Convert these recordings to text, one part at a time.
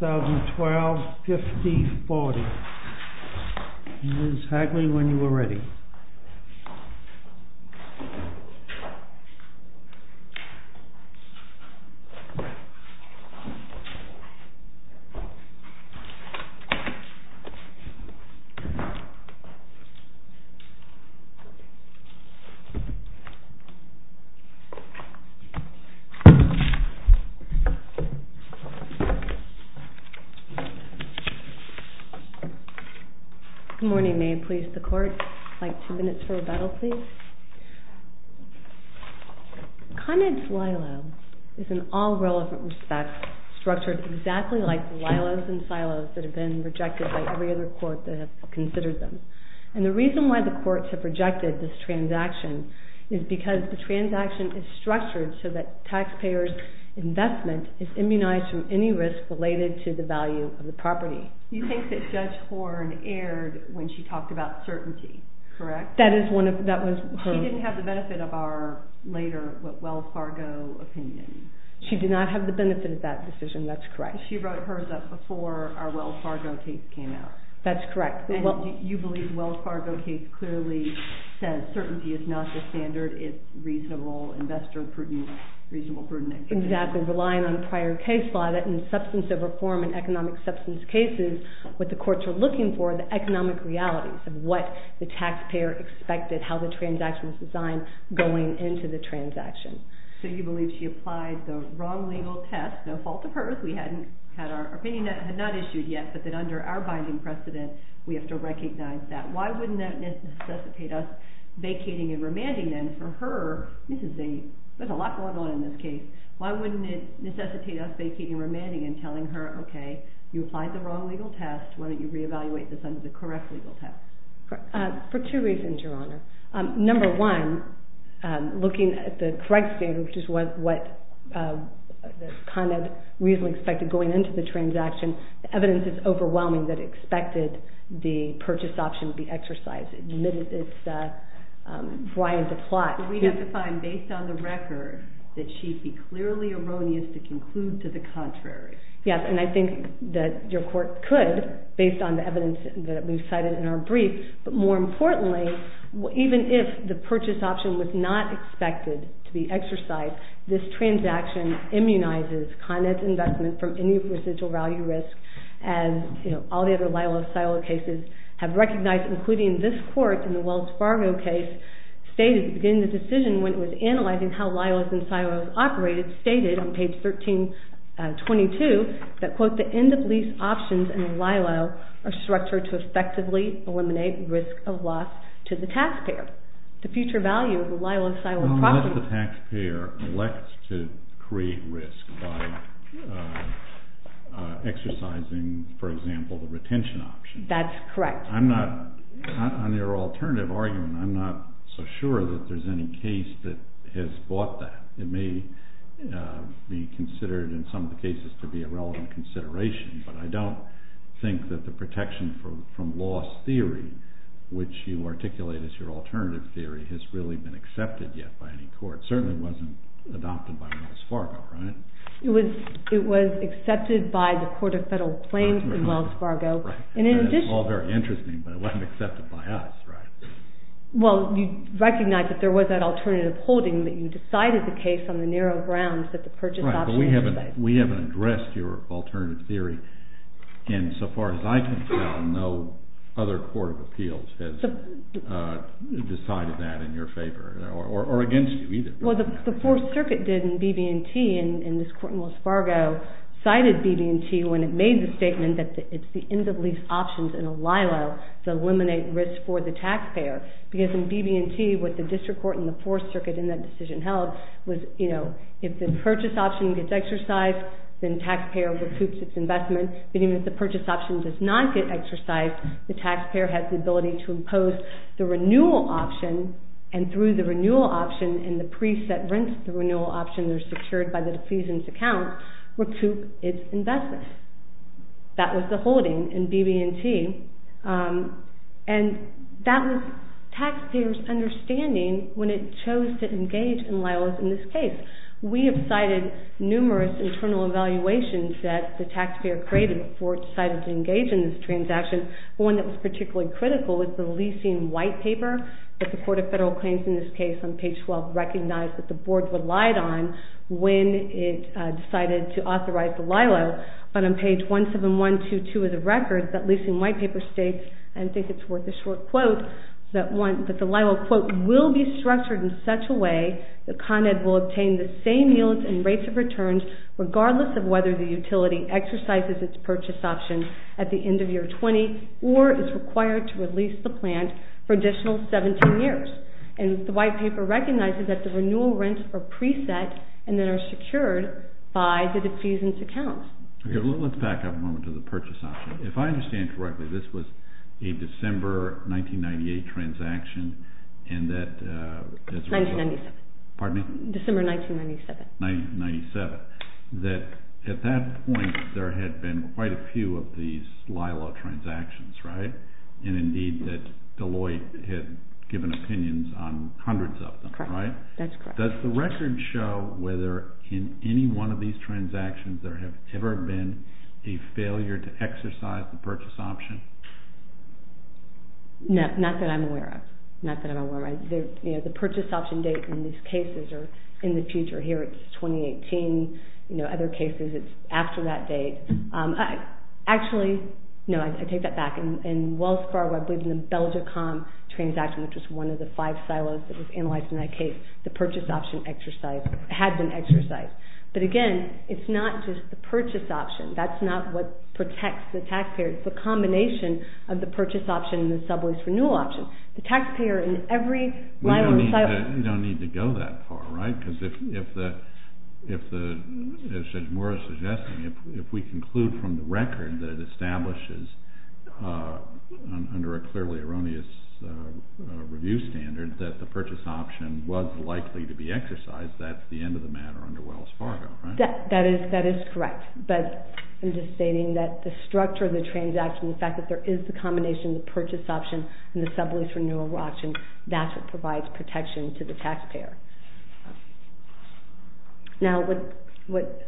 2012, 50, 40. Ms. Hagley, when you are ready. Good morning, may it please the court, I'd like two minutes for rebuttal, please. Conrad's LILO is in all relevant respects structured exactly like the LILOs and SILOs that have been rejected by every other court that has considered them. And the reason why the courts have rejected this transaction is because the transaction is structured so that taxpayers' investment is immunized from any risk related to the value of the property. You think that Judge Horne erred when she talked about certainty, correct? She didn't have the benefit of our later Wells Fargo opinion. She did not have the benefit of that decision, that's correct. She wrote hers up before our Wells Fargo case came out. That's correct. And you believe that the Wells Fargo case clearly says certainty is not the standard, it's reasonable investor prudent, reasonable prudent. Exactly, relying on prior case law that in substance of reform and economic substance cases, what the courts are looking for are the economic realities of what the taxpayer expected, how the transaction was designed going into the transaction. So you believe she applied the wrong legal test, no fault of hers, we hadn't had our opinion not issued yet, but that under our binding precedent we have to recognize that. Why wouldn't that necessitate us vacating and remanding then for her, Mrs. Zane, there's a lot going on in this case, why wouldn't it necessitate us vacating and remanding and telling her okay, you applied the wrong legal test, why don't you reevaluate this under the correct legal test? For two reasons, Your Honor. Number one, looking at the correct statement, which is kind of reasonably expected going into the transaction, the evidence is overwhelming that it expected the purchase option to be exercised. It's blind to plot. We have to find based on the record that she'd be clearly erroneous to conclude to the contrary. Yes, and I think that your court could based on the evidence that we've cited in our brief, but more importantly, even if the purchase option was not expected to be exercised, this recognizes Con Ed's investment from any residual value risk and all the other Lilo-Silo cases have recognized, including this court in the Wells Fargo case, stated at the beginning of the decision when it was analyzing how Lilo's and Silo's operated, stated on page 1322 that, quote, the end of lease options in Lilo are structured to effectively eliminate risk of loss to the taxpayer. The future value of a Lilo-Silo property... How much does the by exercising, for example, the retention option? That's correct. I'm not, on your alternative argument, I'm not so sure that there's any case that has bought that. It may be considered in some of the cases to be a relevant consideration, but I don't think that the protection from loss theory, which you articulate as your alternative theory, has really been accepted yet by any court. It certainly wasn't adopted by Wells Fargo, right? It was accepted by the Court of Federal Claims in Wells Fargo, and in addition... That's all very interesting, but it wasn't accepted by us, right? Well, you recognize that there was that alternative holding that you decided the case on the narrow grounds that the purchase option... Right, but we haven't addressed your alternative theory, and so far as I can tell, no other Court of Appeals has decided that in your favor, or against you, either. Well, the Fourth Circuit did in BB&T, and this Court in Wells Fargo cited BB&T when it made the statement that it's the end of lease options in a Lilo to eliminate risk for the taxpayer, because in BB&T, what the District Court and the Fourth Circuit in that decision held was, you know, if the purchase option gets exercised, then the taxpayer recoups its investment, but even if the purchase option does not get exercised, the taxpayer has the ability to impose the renewal option, and through the renewal option and the pre-set rents, the renewal options are secured by the defeasance account, recoup its investment. That was the holding in BB&T, and that was taxpayers' understanding when it chose to engage in Lilo in this case. We have cited numerous internal evaluations that the taxpayer created before it decided to engage in this transaction, but one that was particularly critical was the leasing white paper that the Court of Federal Claims in this case on page 12 recognized that the Board relied on when it decided to authorize the Lilo, but on page 17122 of the record, that leasing white paper states, and I think it's worth a short quote, that the Lilo quote will be structured in such a way that Con Ed will obtain the same yields and rates of returns regardless of whether the utility exercises its purchase option at the end of year 20 or is required to release the plant for additional 17 years, and the white paper recognizes that the renewal rents are pre-set and then are secured by the defeasance account. Okay, let's back up a moment to the purchase option. If I understand correctly, this was a December 1998 transaction and that... 1997. Pardon me? December 1997. 1997, that at that point there had been quite a few of these Lilo transactions, right? And indeed that Deloitte had given opinions on hundreds of them, right? That's correct. Does the record show whether in any one of these transactions there have ever been a No, not that I'm aware of. Not that I'm aware of. You know, the purchase option date in these cases are in the future. Here it's 2018, you know, other cases it's after that date. Actually, no, I take that back. In Wells Fargo, I believe in the Belgicom transaction, which was one of the five silos that was analyzed in that case, the purchase option exercise had been exercised. But again, it's not just the purchase option. That's not what protects the taxpayer. It's the combination of the purchase option and the subways renewal option. The taxpayer in every... We don't need to go that far, right? Because if the, as Judge Moore is suggesting, if we conclude from the record that it establishes under a clearly erroneous review standard that the purchase option was likely to be exercised, that's the end of the matter under Wells Fargo, right? That is correct. But I'm just stating that the structure of the transaction, the fact that there is the combination of the purchase option and the subways renewal option, that's what provides protection to the taxpayer. Now, what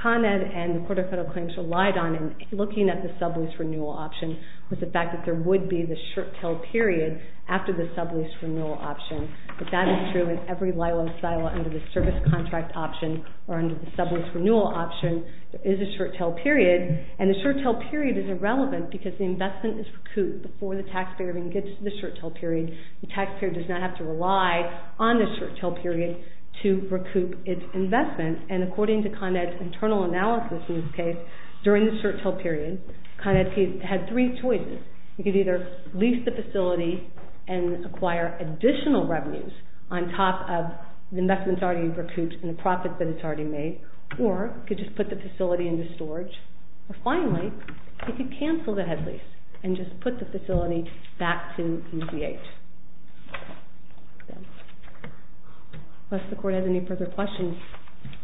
Con Ed and the Court of Federal Claims relied on in looking at the subways renewal option was the fact that there would be the short-tail period after the subways renewal option. But that is true in every silo under the service contract option or under the subways renewal option, there is a short-tail period. And the short-tail period is irrelevant because the investment is recouped before the taxpayer even gets to the short-tail period. The taxpayer does not have to rely on the short-tail period to recoup its investment. And according to Con Ed's internal analysis in this case, during the short-tail period, Con Ed had three choices. He could either lease the facility and acquire additional revenues on top of the investments already recouped and the profits that it's already made, or he could just put the facility into storage. Or finally, he could cancel the head lease and just put the facility back to EZH. Unless the Court has any further questions.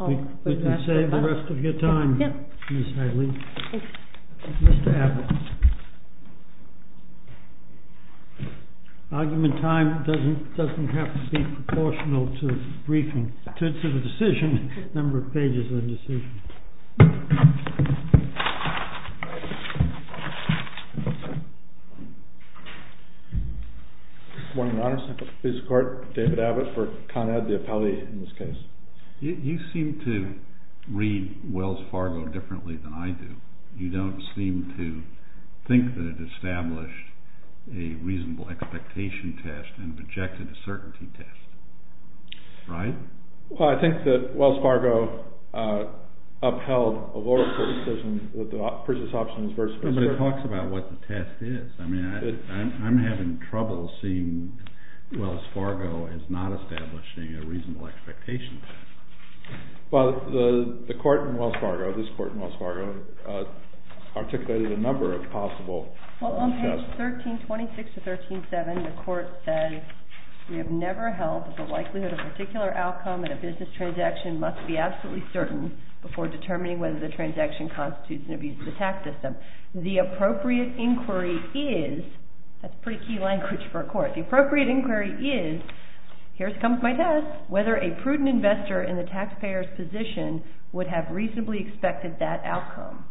We can save the rest of your time, Ms. Hagley. Mr. Abbott. Argument time doesn't have to be proportional to the decision, number of pages of the decision. Good morning, Your Honor. This is David Abbott for Con Ed, the appellee in this case. You seem to read Wells Fargo differently than I do. You don't seem to think that it established a reasonable expectation test and projected a certainty test, right? Well, I think that Wells Fargo upheld a lower court decision with the previous options versus But it talks about what the test is. I mean, I'm having trouble seeing Wells Fargo as not establishing a reasonable expectation test. Well, the Court in Wells Fargo, this Court in Wells Fargo, articulated a number of possible Well, on page 1326 to 137, the Court said, We have never held that the likelihood of a particular outcome in a business transaction must be absolutely certain before determining whether the transaction constitutes an abusive tax system. The appropriate inquiry is, that's pretty key language for a court, the appropriate inquiry is, here comes my test, whether a prudent investor in the taxpayer's position would have reasonably expected that outcome.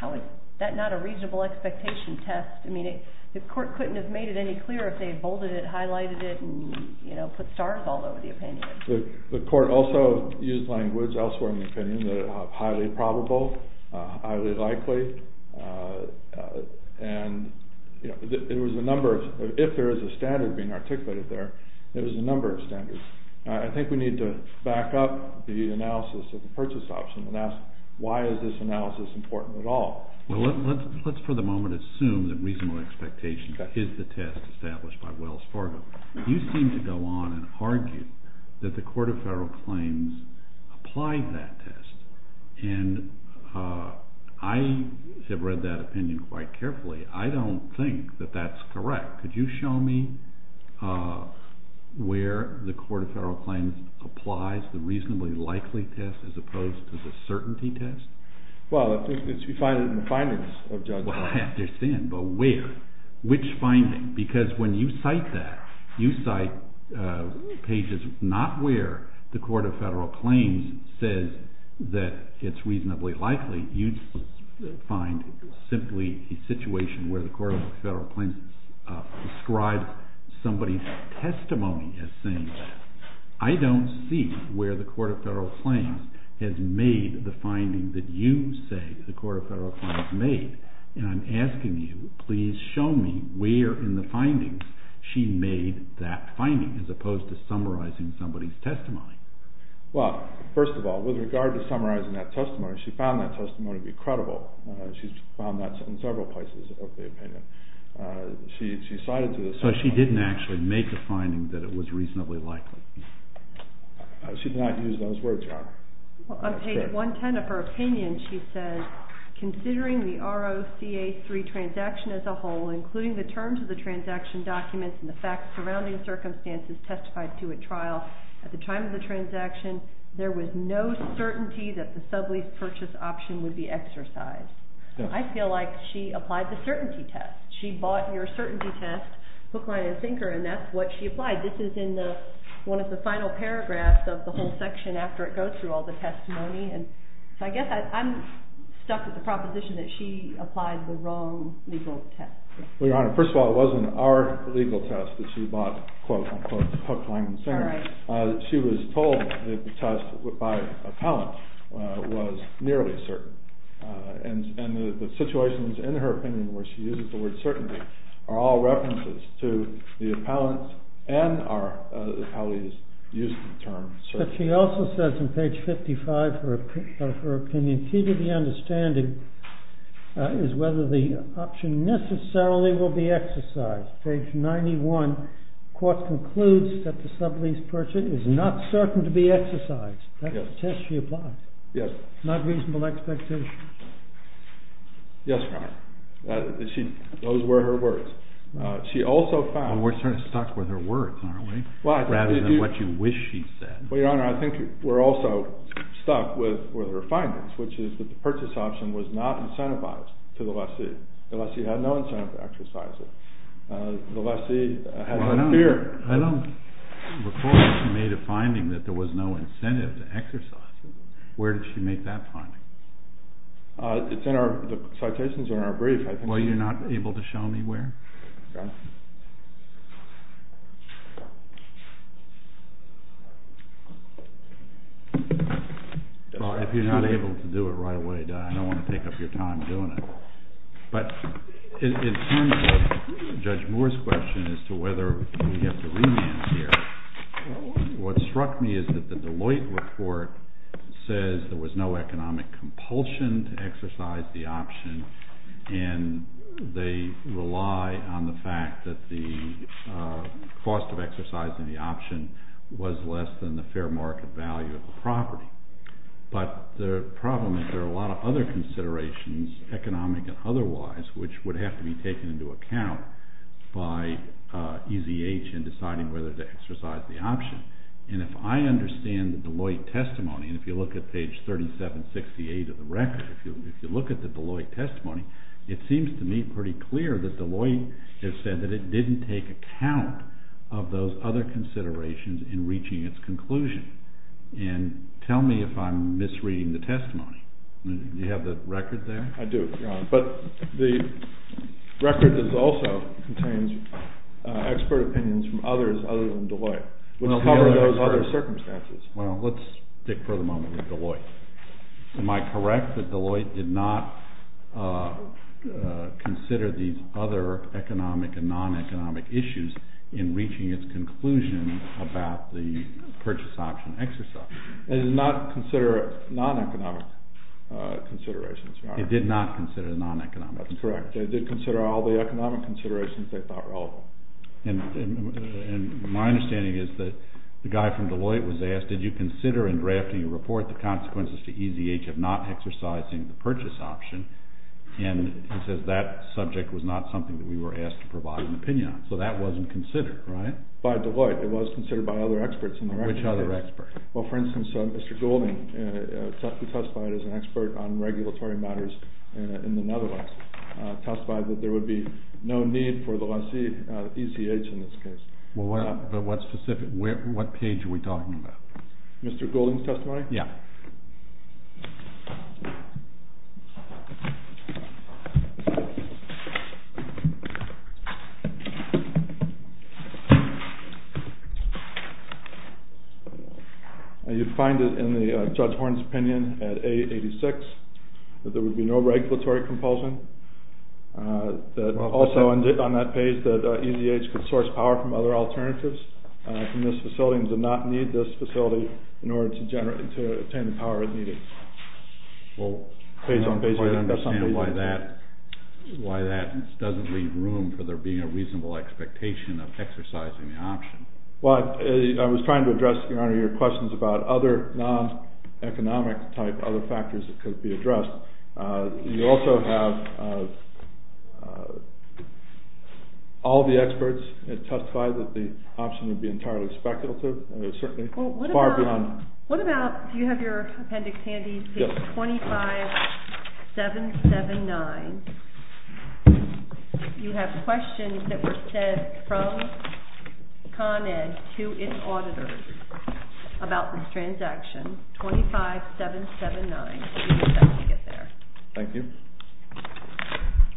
How is that not a reasonable expectation test? I mean, the Court couldn't have made it any clearer if they had bolded it, highlighted it, and put stars all over the opinion. The Court also used language elsewhere in the opinion that highly probable, highly likely, and it was a number of, if there is a standard being articulated there, it was a number of standards. I think we need to back up the analysis of the purchase option and ask, why is this analysis important at all? Well, let's for the moment assume that reasonable expectation is the test established by Wells Fargo. You seem to go on and argue that the Court of Federal Claims applied that test, and I have read that opinion quite carefully. I don't think that that's correct. Could you show me where the Court of Federal Claims applies the reasonably likely test as opposed to the certainty test? Well, I think it's defined in the findings of judges. Well, I understand, but where? Which finding? Because when you cite that, you cite pages not where the Court of Federal Claims says that it's reasonably likely. You find simply a situation where the Court of Federal Claims prescribes somebody's testimony as saying that. I don't see where the Court of Federal Claims has made the finding that you say the Court of Federal Claims made, and I'm asking you, please show me where in the findings she made that finding as opposed to summarizing somebody's testimony. Well, first of all, with regard to summarizing that testimony, she found that testimony to be credible. She's found that in several places of the opinion. So she didn't actually make the finding that it was reasonably likely. She did not use those words, Your Honor. On page 110 of her opinion, she says, Considering the ROCA3 transaction as a whole, including the terms of the transaction documents and the facts surrounding circumstances testified to at trial, at the time of the transaction, there was no certainty that the sublease purchase option would be exercised. I feel like she applied the certainty test. She bought your certainty test, hook, line, and sinker, and that's what she applied. This is in one of the final paragraphs of the whole section after it goes through all the testimony, and so I guess I'm stuck with the proposition that she applied the wrong legal test. Well, Your Honor, first of all, it wasn't our legal test that she bought, quote, unquote, hook, line, and sinker. All right. She was told that the test by appellant was nearly certain, and the situations in her opinion where she uses the word certainty are all references to the appellant and our appellee's use of the term certainty. But she also says on page 55 of her opinion, Key to the understanding is whether the option necessarily will be exercised. Page 91, court concludes that the sublease purchase is not certain to be exercised. That's the test she applied. Yes. Not reasonable expectation. Yes, Your Honor. Those were her words. She also found- We're sort of stuck with her words, aren't we, rather than what you wish she'd said. Well, Your Honor, I think we're also stuck with her findings, which is that the purchase option was not incentivized to the lessee. The lessee had no incentive to exercise it. The lessee had no fear. I don't recall that she made a finding that there was no incentive to exercise it. Where did she make that finding? It's in our citations in our brief, I think. Well, you're not able to show me where? No. Well, if you're not able to do it right away, I don't want to take up your time doing it. But in terms of Judge Moore's question as to whether we have to remand here, what struck me is that the Deloitte report says there was no economic compulsion to exercise the option, and they rely on the fact that the cost of exercising the option was less than the fair market value of the property. But the problem is there are a lot of other considerations, economic and otherwise, which would have to be taken into account by EZH in deciding whether to exercise the option. And if I understand the Deloitte testimony, and if you look at page 3768 of the record, if you look at the Deloitte testimony, it seems to me pretty clear that Deloitte has said that it didn't take account of those other considerations in reaching its conclusion. And tell me if I'm misreading the testimony. Do you have the record there? I do, Your Honor. But the record also contains expert opinions from others other than Deloitte, which cover those other circumstances. Well, let's stick for the moment with Deloitte. Am I correct that Deloitte did not consider these other economic and non-economic issues in reaching its conclusion about the purchase option exercise? It did not consider non-economic considerations, Your Honor. It did not consider non-economic considerations. That's correct. It did consider all the economic considerations they thought relevant. And my understanding is that the guy from Deloitte was asked, did you consider in drafting your report the consequences to EZH of not exercising the purchase option? And he says that subject was not something that we were asked to provide an opinion on. So that wasn't considered, right? By Deloitte. It was considered by other experts in the record. Which other experts? Well, for instance, Mr. Goulding testified as an expert on regulatory matters in the Netherlands, testified that there would be no need for the EZH in this case. But what page are we talking about? Mr. Goulding's testimony? Yeah. You'd find it in Judge Horne's opinion at A86 that there would be no regulatory compulsion. Also on that page that EZH could source power from other alternatives from this facility and did not need this facility in order to attain the power it needed. Well, I don't quite understand why that doesn't leave room for there being a reasonable expectation of exercising the option. Well, I was trying to address, Your Honor, your questions about other non-economic type, other factors that could be addressed. You also have all the experts that testified that the option would be entirely speculative. It was certainly far beyond. What about, do you have your appendix handy? Yes. Page 25779. You have questions that were sent from Con Ed to its auditors about this transaction, 25779. We expect to get there. Thank you.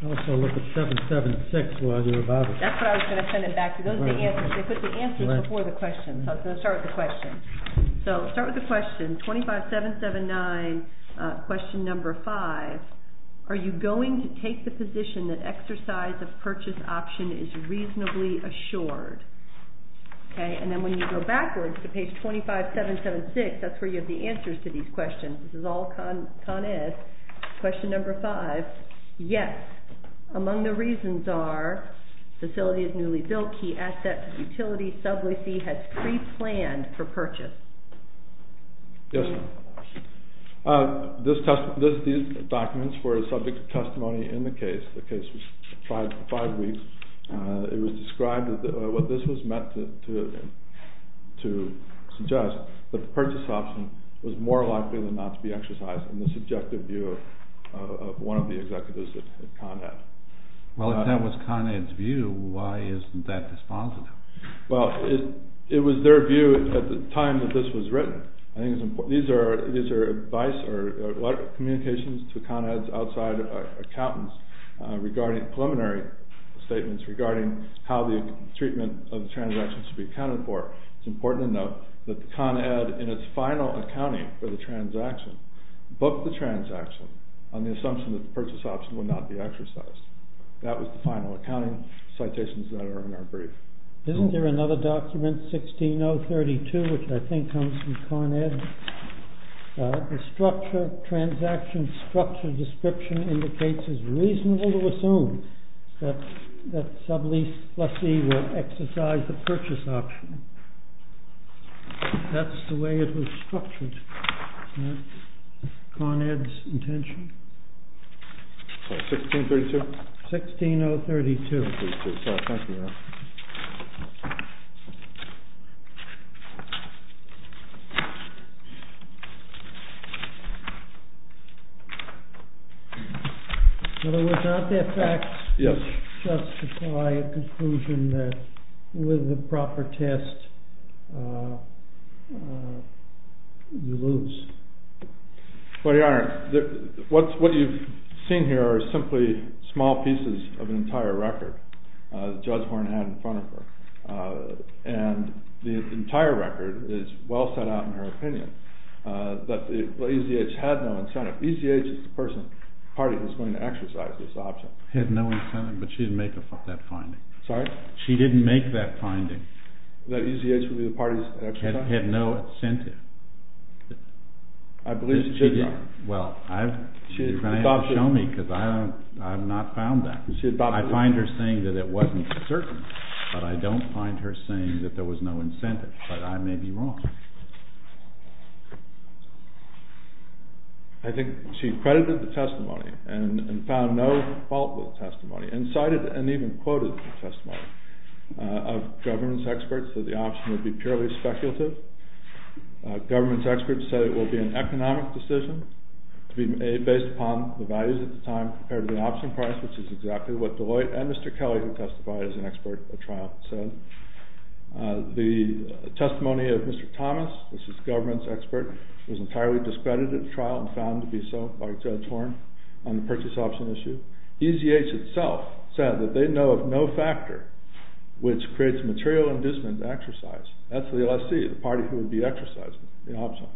Also look at 776 while you're about it. That's what I was going to send it back to. Those are the answers. They put the answers before the questions. So let's start with the questions. So start with the question, 25779, question number five. Are you going to take the position that exercise of purchase option is reasonably assured? And then when you go backwards to page 25776, that's where you have the answers to these questions. This is all Con Ed. Question number five. Yes. Among the reasons are facility is newly built. Key assets, utility, subway fee has pre-planned for purchase. Yes. These documents were subject to testimony in the case. The case was five weeks. It was described as, well, this was meant to suggest that the purchase option was more likely than not to be exercised in the subjective view of one of the executives at Con Ed. Well, if that was Con Ed's view, why isn't that dispositive? Well, it was their view at the time that this was written. I think these are advice or communications to Con Ed's outside accountants regarding preliminary statements regarding how the treatment of transactions should be accounted for. It's important to note that Con Ed, in its final accounting for the transaction, booked the transaction on the assumption that the purchase option would not be exercised. That was the final accounting citations that are in our brief. Isn't there another document, 16-032, which I think comes from Con Ed? The structure, transaction structure description indicates it's reasonable to assume that sublease plus E will exercise the purchase option. That's the way it was structured. Isn't that Con Ed's intention? Sorry, 16-032? 16-032. In other words, aren't there facts which justify a conclusion that with the proper test, you lose? Well, Your Honor, what you've seen here are simply small pieces of an entire record Judge Horn had in front of her. And the entire record is well set out in her opinion that ECH had no incentive. ECH is the party that's going to exercise this option. Had no incentive, but she didn't make that finding. Sorry? She didn't make that finding. That ECH would be the party's? Had no incentive. I believe she did, Your Honor. Well, you're going to have to show me because I have not found that. I find her saying that it wasn't certain, but I don't find her saying that there was no incentive. But I may be wrong. I think she credited the testimony and found no fault with the testimony and cited and even quoted the testimony of government experts that the option would be purely speculative. Government experts said it would be an economic decision to be based upon the values at the time compared to the option price, which is exactly what Deloitte and Mr. Kelly, who testified as an expert at trial, said. The testimony of Mr. Thomas, which is government's expert, was entirely discredited at trial and found to be so by Judge Horn on the purchase option issue. ECH itself said that they know of no factor which creates material indiscipline to exercise. That's the LSC, the party who would be exercising the option.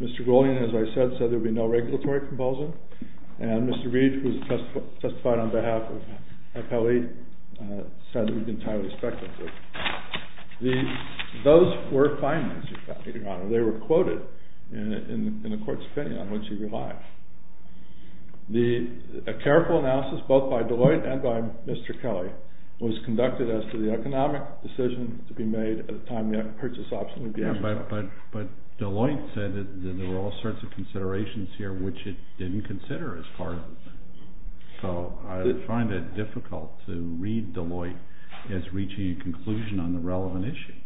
Mr. Golian, as I said, said there would be no regulatory compulsion. And Mr. Reed, who testified on behalf of Kelly, said it would be entirely speculative. Those were findings, Your Honor. They were quoted in the court's opinion on which he relied. A careful analysis, both by Deloitte and by Mr. Kelly, was conducted as to the economic decision to be made at the time the purchase option would be exercised. But Deloitte said that there were all sorts of considerations here which it didn't consider as part of it. So I find it difficult to read Deloitte as reaching a conclusion on the relevant issue.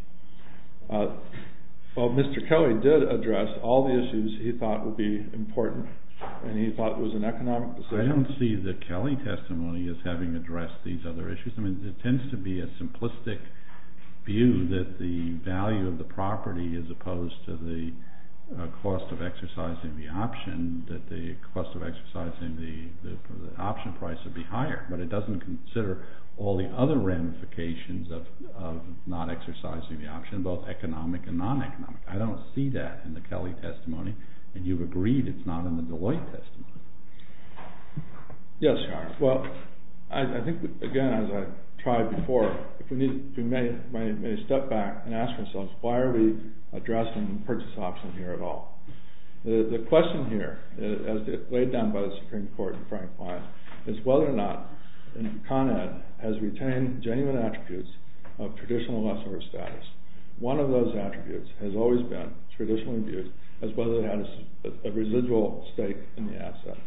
Well, Mr. Kelly did address all the issues he thought would be important, and he thought it was an economic decision. I don't see the Kelly testimony as having addressed these other issues. I mean, there tends to be a simplistic view that the value of the property, as opposed to the cost of exercising the option, that the cost of exercising the option price would be higher. But it doesn't consider all the other ramifications of not exercising the option, both economic and non-economic. I don't see that in the Kelly testimony. And you've agreed it's not in the Deloitte testimony. Yes, Your Honor. Well, I think, again, as I tried before, if we may step back and ask ourselves, why are we addressing the purchase option here at all? The question here, as laid down by the Supreme Court in Frank Klein, is whether or not Con Ed has retained genuine attributes of traditional lessor status. One of those attributes has always been traditional abuse as well as a residual stake in the asset.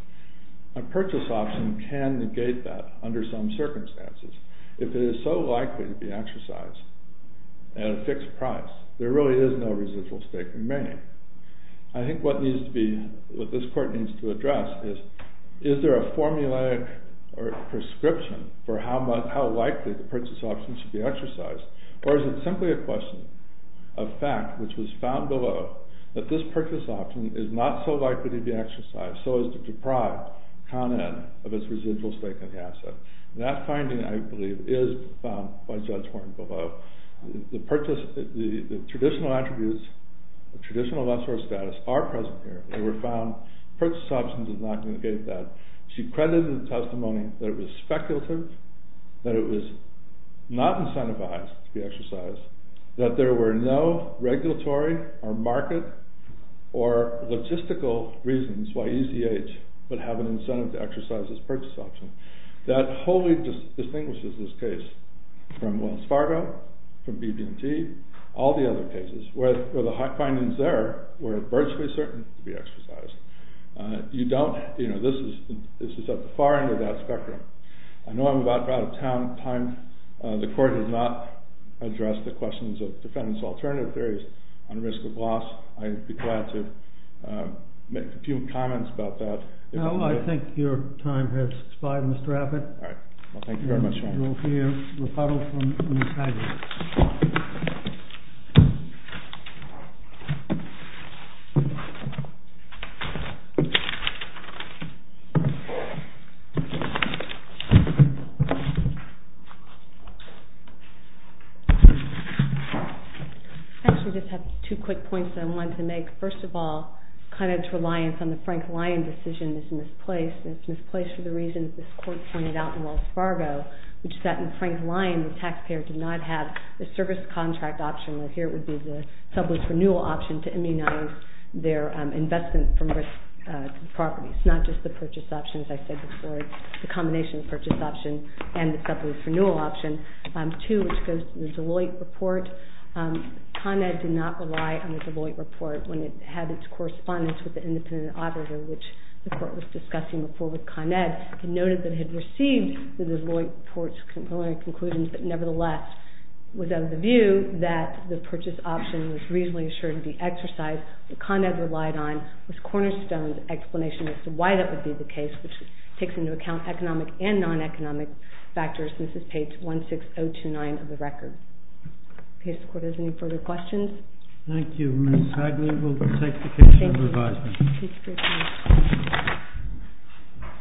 A purchase option can negate that under some circumstances. If it is so likely to be exercised at a fixed price, there really is no residual stake remaining. I think what this Court needs to address is, is there a formulaic prescription for how likely the purchase option should be exercised? Or is it simply a question of fact, which was found below, that this purchase option is not so likely to be exercised, so as to deprive Con Ed of its residual stake in the asset? That finding, I believe, is found by Judge Horne below. The traditional attributes of traditional lessor status are present here. They were found. Purchase option does not negate that. She credited the testimony that it was speculative, that it was not incentivized to be exercised, that there were no regulatory or market or logistical reasons why ECH would have an incentive to exercise this purchase option. That wholly distinguishes this case from Wells Fargo, from BB&T, all the other cases where the findings there were virtually certain to be exercised. This is at the far end of that spectrum. I know I'm about out of time. The Court has not addressed the questions of defendant's alternative theories on risk of loss. I'd be glad to make a few comments about that. Well, I think your time has expired, Mr. Abbott. All right. Well, thank you very much, Your Honor. You will hear a rebuttal from Ms. Haggard. I actually just have two quick points I wanted to make. First of all, kind of reliance on the Frank Lyon decision is misplaced, and it's misplaced for the reasons this Court pointed out in Wells Fargo, which is that in Frank Lyon, the taxpayer did not have the service contract option, where here it would be the sublease renewal option to immunize their investment from risk to property. It's not just the purchase option, as I said before. It's a combination of purchase option and the sublease renewal option. Two, which goes to the Deloitte report, Con Ed did not rely on the Deloitte report when it had its correspondence with the independent auditor, which the Court was discussing before with Con Ed. Con Ed noted that it had received the Deloitte report's preliminary conclusions, but nevertheless was of the view that the purchase option was reasonably assured to be exercised. What Con Ed relied on was Cornerstone's explanation as to why that would be the case, which takes into account economic and non-economic factors. This is page 16029 of the record. Okay, if the Court has any further questions. Thank you, Ms. Haggard. We'll take the case for review.